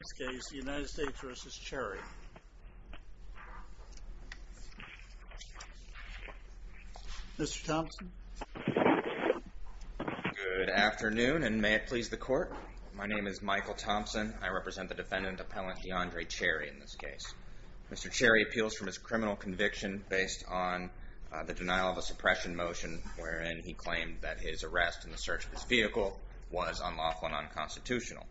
In this case, the United States v. Cherry. Mr. Thompson. Good afternoon, and may it please the Court. My name is Michael Thompson. I represent the defendant, Appellant Deandre Cherry, in this case. Mr. Cherry appeals for his criminal conviction based on the denial of a suppression motion wherein he claimed that his arrest in the search of his vehicle was unlawful and unconstitutional.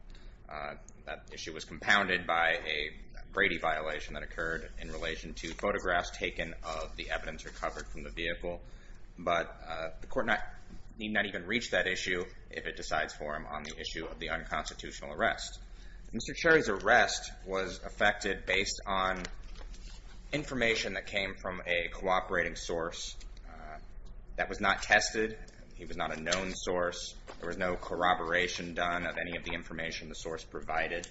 That issue was compounded by a Brady violation that occurred in relation to photographs taken of the evidence recovered from the vehicle. But the Court need not even reach that issue if it decides for him on the issue of the unconstitutional arrest. Mr. Cherry's arrest was affected based on information that came from a cooperating source that was not tested. He was not a known source. There was no corroboration done of any of the information the source provided.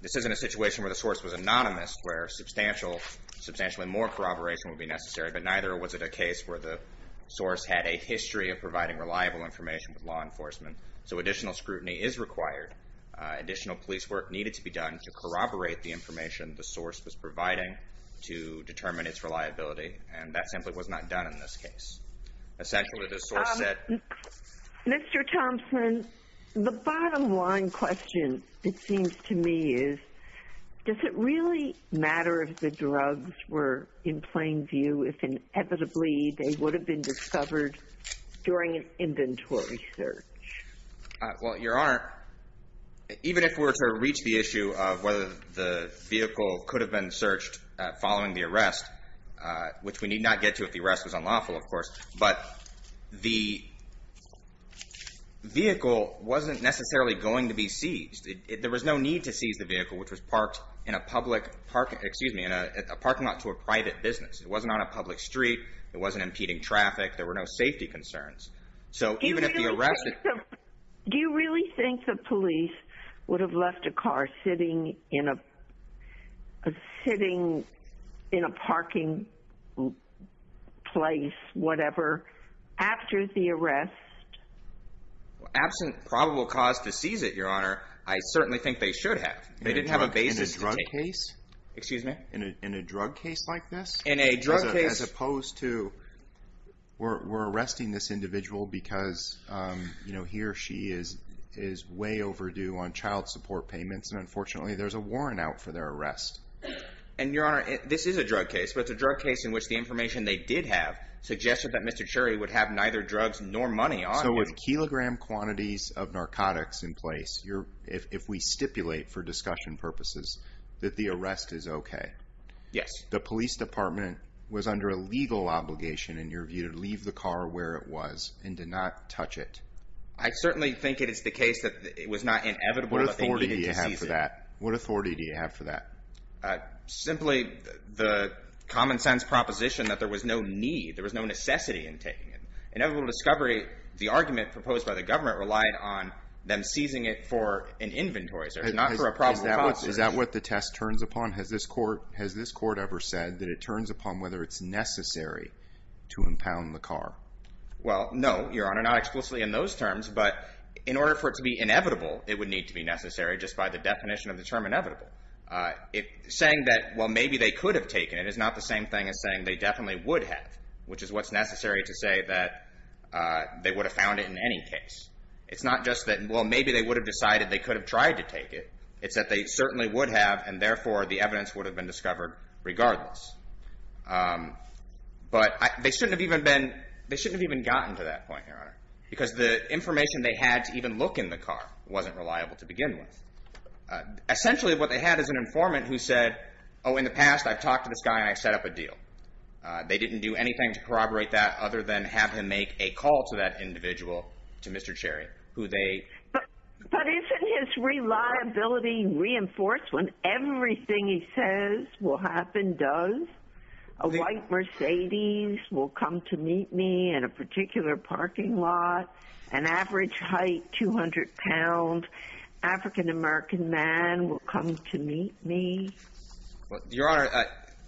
This isn't a situation where the source was anonymous, where substantially more corroboration would be necessary, but neither was it a case where the source had a history of providing reliable information with law enforcement. So additional scrutiny is required. Additional police work needed to be done to corroborate the information the source was providing to determine its reliability, and that simply was not done in this case. Essentially, the source said- Mr. Thompson, the bottom line question, it seems to me, is does it really matter if the drugs were in plain view if inevitably they would have been discovered during an inventory search? Well, Your Honor, even if we were to reach the issue of whether the vehicle could have been searched following the arrest, which we need not get to if the arrest was unlawful, of course, but the vehicle wasn't necessarily going to be seized. There was no need to seize the vehicle, which was parked in a parking lot to a private business. It wasn't on a public street. It wasn't impeding traffic. There were no safety concerns. Do you really think the police would have left a car sitting in a parking place, whatever, after the arrest? Absent probable cause to seize it, Your Honor, I certainly think they should have. In a drug case? Excuse me? In a drug case like this? In a drug case- As opposed to, we're arresting this individual because he or she is way overdue on child support payments, and unfortunately there's a warrant out for their arrest. And, Your Honor, this is a drug case, but it's a drug case in which the information they did have suggested that Mr. Cherry would have neither drugs nor money on him. So with kilogram quantities of narcotics in place, if we stipulate for discussion purposes, that the arrest is okay. Yes. The police department was under a legal obligation, in your view, to leave the car where it was and did not touch it. I certainly think it is the case that it was not inevitable that they needed to seize it. What authority do you have for that? Simply the common sense proposition that there was no need, there was no necessity in taking it. Inevitable discovery, the argument proposed by the government relied on them seizing it for an inventory, so it's not for a probable cause. Is that what the test turns upon? Has this court ever said that it turns upon whether it's necessary to impound the car? Well, no, Your Honor, not explicitly in those terms, but in order for it to be inevitable, it would need to be necessary just by the definition of the term inevitable. Saying that, well, maybe they could have taken it is not the same thing as saying they definitely would have, which is what's necessary to say that they would have found it in any case. It's not just that, well, maybe they would have decided they could have tried to take it. It's that they certainly would have and, therefore, the evidence would have been discovered regardless. But they shouldn't have even gotten to that point, Your Honor, because the information they had to even look in the car wasn't reliable to begin with. Essentially what they had is an informant who said, oh, in the past I've talked to this guy and I've set up a deal. They didn't do anything to corroborate that other than have him make a call to that individual, to Mr. Cherry, who they But isn't his reliability reinforcement everything he says will happen does? A white Mercedes will come to meet me in a particular parking lot, an average height 200 pounds, African-American man will come to meet me. Your Honor,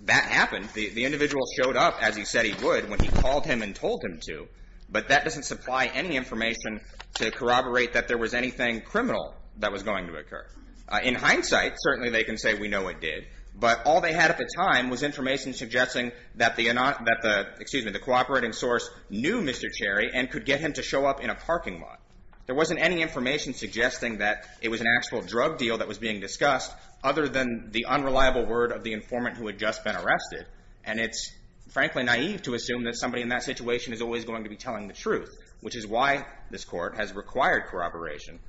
that happened. The individual showed up as he said he would when he called him and told him to, but that doesn't supply any information to corroborate that there was anything criminal that was going to occur. In hindsight, certainly they can say we know it did, but all they had at the time was information suggesting that the, excuse me, the cooperating source knew Mr. Cherry and could get him to show up in a parking lot. There wasn't any information suggesting that it was an actual drug deal that was being discussed other than the unreliable word of the informant who had just been arrested. And it's frankly naive to assume that somebody in that situation is always going to be telling the truth, which is why this court has required corroboration.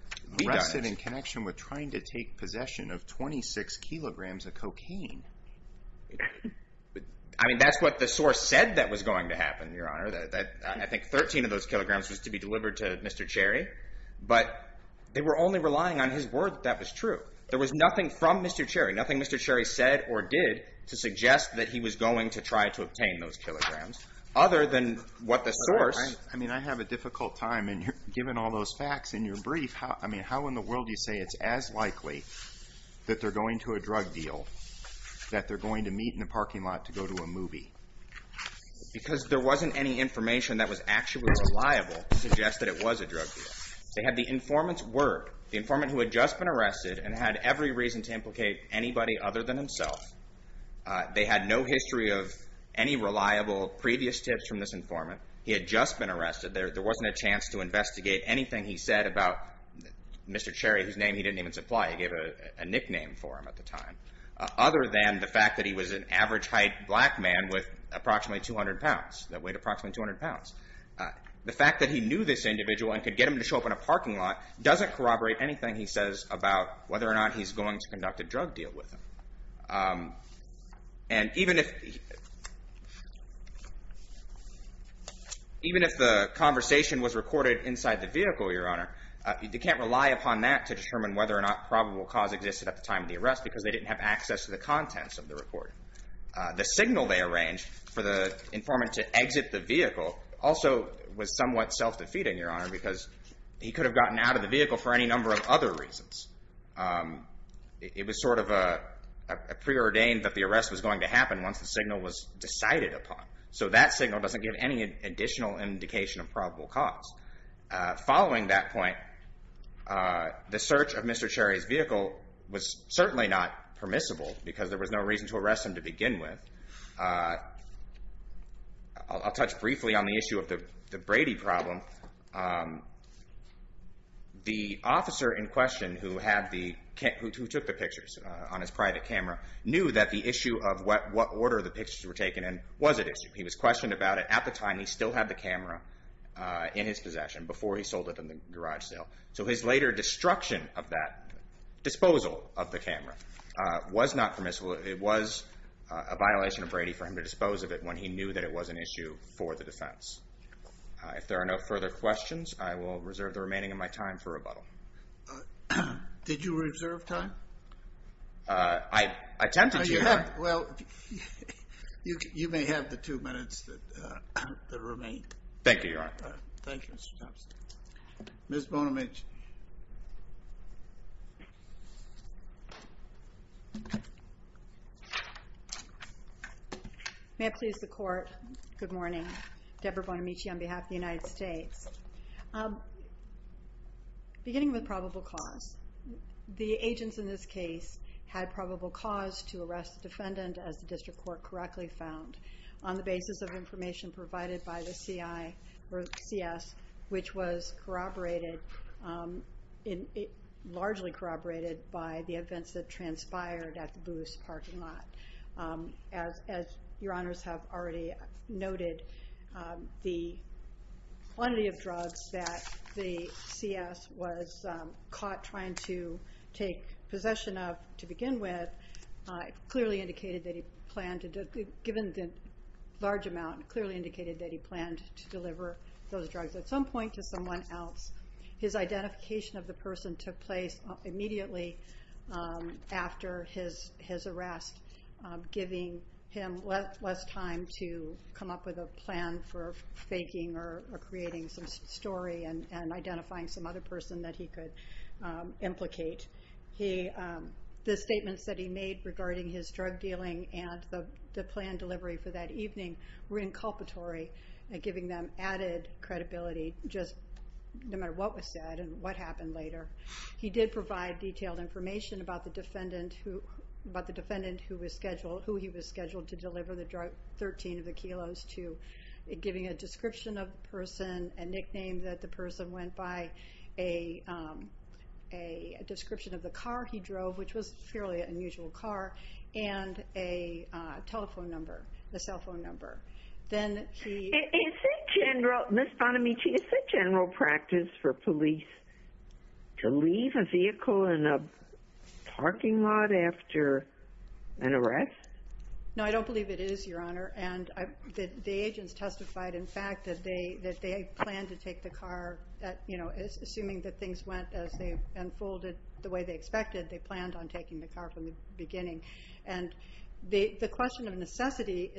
Arrested in connection with trying to take possession of 26 kilograms of cocaine. I mean, that's what the source said that was going to happen, Your Honor, that I think 13 of those kilograms was to be delivered to Mr. Cherry. But they were only relying on his word that that was true. There was nothing from Mr. Cherry, nothing Mr. Cherry said or did to suggest that he was going to try to obtain those kilograms. Other than what the source. I mean, I have a difficult time, and given all those facts in your brief, I mean, how in the world do you say it's as likely that they're going to a drug deal that they're going to meet in the parking lot to go to a movie? Because there wasn't any information that was actually reliable to suggest that it was a drug deal. They had the informant's word, the informant who had just been arrested and had every reason to implicate anybody other than himself. They had no history of any reliable previous tips from this informant. He had just been arrested. There wasn't a chance to investigate anything he said about Mr. Cherry, whose name he didn't even supply. He gave a nickname for him at the time, other than the fact that he was an average height black man with approximately 200 pounds, that weighed approximately 200 pounds. The fact that he knew this individual and could get him to show up in a parking lot doesn't corroborate anything he says about whether or not he's going to conduct a drug deal with him. And even if the conversation was recorded inside the vehicle, Your Honor, they can't rely upon that to determine whether or not probable cause existed at the time of the arrest because they didn't have access to the contents of the recording. The signal they arranged for the informant to exit the vehicle also was somewhat self-defeating, Your Honor, because he could have gotten out of the vehicle for any number of other reasons. It was sort of preordained that the arrest was going to happen once the signal was decided upon. So that signal doesn't give any additional indication of probable cause. Following that point, the search of Mr. Cherry's vehicle was certainly not permissible because there was no reason to arrest him to begin with. I'll touch briefly on the issue of the Brady problem. The officer in question who took the pictures on his private camera knew that the issue of what order the pictures were taken in was at issue. He was questioned about it at the time he still had the camera in his possession before he sold it in the garage sale. So his later destruction of that disposal of the camera was not permissible. It was a violation of Brady for him to dispose of it when he knew that it was an issue for the defense. If there are no further questions, I will reserve the remaining of my time for rebuttal. Did you reserve time? I attempted to, Your Honor. Well, you may have the two minutes that remain. Thank you, Your Honor. Thank you, Mr. Thompson. Ms. Bonamici. May it please the Court, good morning. Deborah Bonamici on behalf of the United States. Beginning with probable cause. The agents in this case had probable cause to arrest the defendant, as the district court correctly found, on the basis of information provided by the CI or CS, which was corroborated, largely corroborated, by the events that transpired at the Booth's parking lot. As Your Honors have already noted, the quantity of drugs that the CS was caught trying to take possession of to begin with clearly indicated that he planned to, given the large amount, clearly indicated that he planned to deliver those drugs at some point to someone else. His identification of the person took place immediately after his arrest, giving him less time to come up with a plan for faking or creating some story and identifying some other person that he could implicate. The statements that he made regarding his drug dealing and the planned delivery for that evening were inculpatory, giving them added credibility, just no matter what was said and what happened later. He did provide detailed information about the defendant who was scheduled, who he was scheduled to deliver the drug, 13 of the kilos, to giving a description of the person, a nickname that the person went by, a description of the car he drove, which was a fairly unusual car, and a telephone number, a cell phone number. Then he... Is it general, Ms. Bonamici, is it general practice for police to leave a vehicle in a parking lot after an arrest? No, I don't believe it is, Your Honor. The agents testified, in fact, that they planned to take the car, assuming that things went as they unfolded the way they expected, they planned on taking the car from the beginning. And the question of necessity,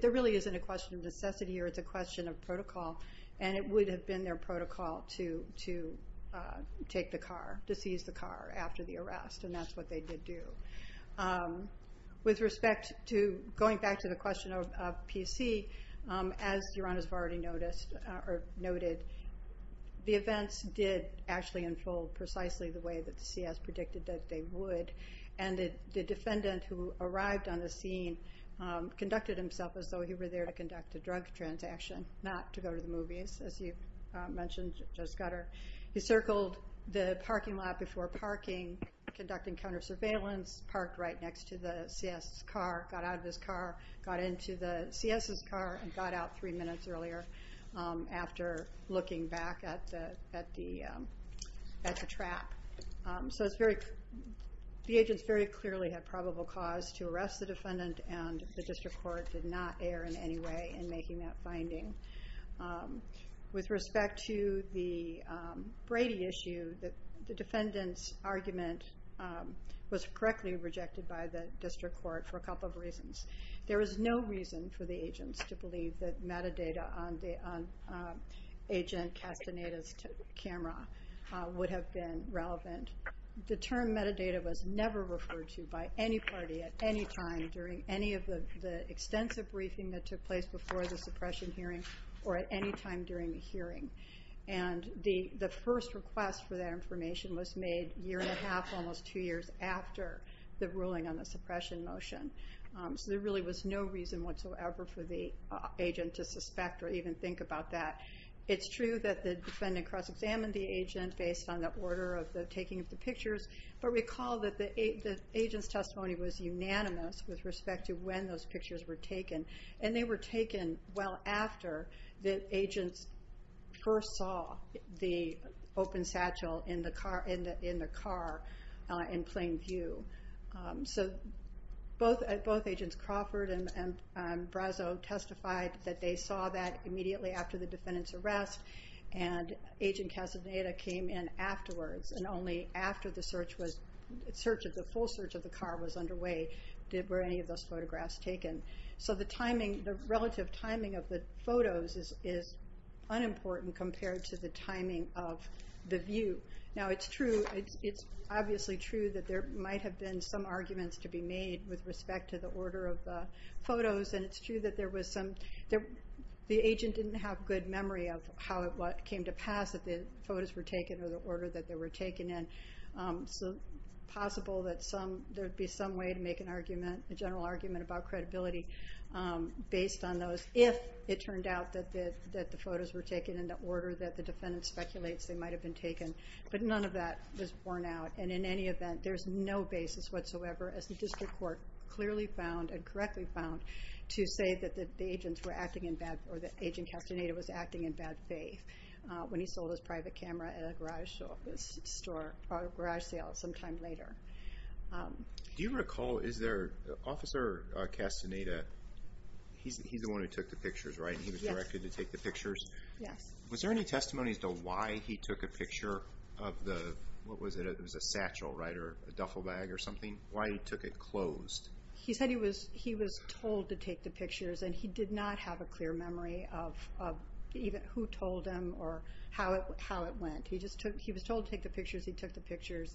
there really isn't a question of necessity or it's a question of protocol, and it would have been their protocol to take the car, to seize the car after the arrest, and that's what they did do. With respect to going back to the question of PC, as Your Honors have already noticed or noted, the events did actually unfold precisely the way that CS predicted that they would, and the defendant who arrived on the scene conducted himself as though he were there to conduct a drug transaction, not to go to the movies, as you mentioned, Judge Scudder. He circled the parking lot before parking, conducting counter surveillance, parked right next to the CS' car, got out of his car, got into the CS' car, and got out three minutes earlier after looking back at the trap. So the agents very clearly had probable cause to arrest the defendant and the district court did not err in any way in making that finding. With respect to the Brady issue, the defendant's argument was correctly rejected by the district court for a couple of reasons. There was no reason for the agents to believe that metadata on Agent Castaneda's camera would have been relevant. The term metadata was never referred to by any party at any time during any of the extensive briefing that took place before the suppression hearing or at any time during the hearing. And the first request for that information was made a year and a half, almost two years after the ruling on the suppression motion. So there really was no reason whatsoever for the agent to suspect or even think about that. It's true that the defendant cross-examined the agent based on the order of the taking of the pictures, but recall that the agent's testimony was unanimous with respect to when those pictures were taken. And they were taken well after the agents first saw the open satchel in the car in plain view. So both Agents Crawford and Brazzo testified that they saw that immediately after the defendant's arrest, and Agent Castaneda came in afterwards and only after the full search of the car was underway were any of those photographs taken. So the relative timing of the photos is unimportant compared to the timing of the view. Now it's obviously true that there might have been some arguments to be made with respect to the order of the photos, and it's true that the agent didn't have good memory of how it came to pass that the photos were taken or the order that they were taken in. So it's possible that there'd be some way to make a general argument about credibility based on those if it turned out that the photos were taken in the order that the defendant speculates they might have been taken. But none of that was borne out, and in any event, there's no basis whatsoever, as the district court clearly found and correctly found, to say that the agents were acting in bad, or that Agent Castaneda was acting in bad faith when he sold his private camera at a garage sale sometime later. Do you recall, is there, Officer Castaneda, he's the one who took the pictures, right? Yes. He was directed to take the pictures? Yes. Was there any testimony as to why he took a picture of the, what was it, it was a satchel, right, or a duffel bag or something? Why he took it closed? He said he was told to take the pictures, and he did not have a clear memory of even who told him or how it went. He was told to take the pictures, he took the pictures,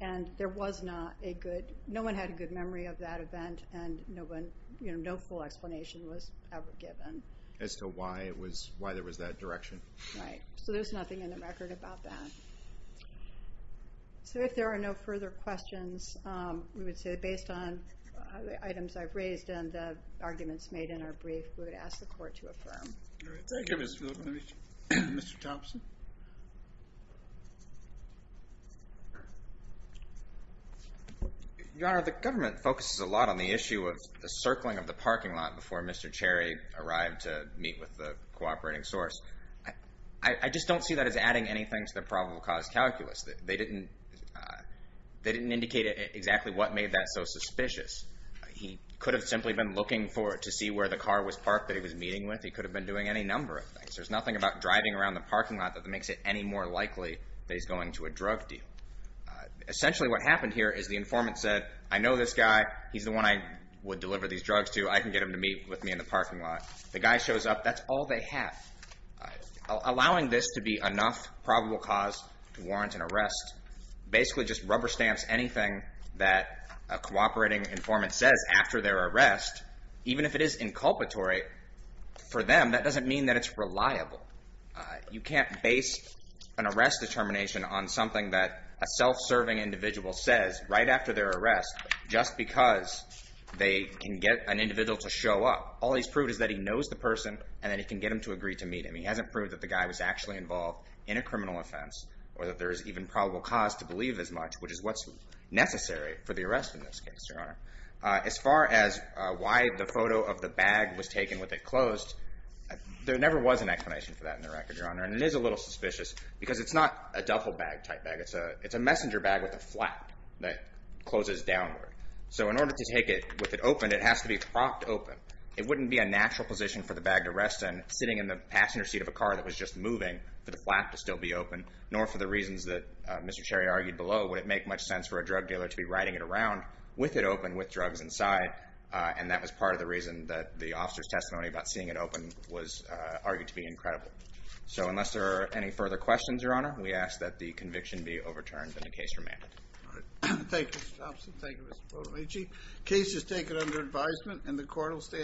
and there was not a good, no one had a good memory of that event, and no full explanation was ever given. As to why there was that direction? Right. So there's nothing in the record about that. So if there are no further questions, we would say that based on the items I've raised and the arguments made in our brief, we would ask the Court to affirm. Thank you, Ms. Phillips. Mr. Thompson? Your Honor, the government focuses a lot on the issue of the circling of the parking lot before Mr. Cherry arrived to meet with the cooperating source. I just don't see that as adding anything to the probable cause calculus. They didn't indicate exactly what made that so suspicious. He could have simply been looking to see where the car was parked that he was meeting with. He could have been doing any number of things. There's nothing about driving around the parking lot that makes it any more likely that he's going to a drug deal. Essentially what happened here is the informant said, I know this guy, he's the one I would deliver these drugs to, I can get him to meet with me in the parking lot. The guy shows up. That's all they have. Allowing this to be enough probable cause to warrant an arrest basically just rubber stamps anything that a cooperating informant says after their arrest. Even if it is inculpatory for them, that doesn't mean that it's reliable. You can't base an arrest determination on something that a self-serving individual says right after their arrest just because they can get an individual to show up. All he's proved is that he knows the person and that he can get them to agree to meet him. He hasn't proved that the guy was actually involved in a criminal offense or that there is even probable cause to believe as much, which is what's necessary for the arrest in this case, Your Honor. As far as why the photo of the bag was taken with it closed, there never was an explanation for that in the record, Your Honor, and it is a little suspicious because it's not a duffel bag type bag. It's a messenger bag with a flap that closes downward. So in order to take it with it open, it has to be propped open. It wouldn't be a natural position for the bag to rest in sitting in the passenger seat of a car that was just moving for the flap to still be open, nor for the reasons that Mr. Cherry argued below. Would it make much sense for a drug dealer to be riding it around with it open with drugs inside? And that was part of the reason that the officer's testimony about seeing it open was argued to be incredible. So unless there are any further questions, Your Honor, we ask that the conviction be overturned and the case remanded. All right. Thank you, Mr. Thompson. Thank you, Mr. Podolici. Case is taken under advisement and the court will stand.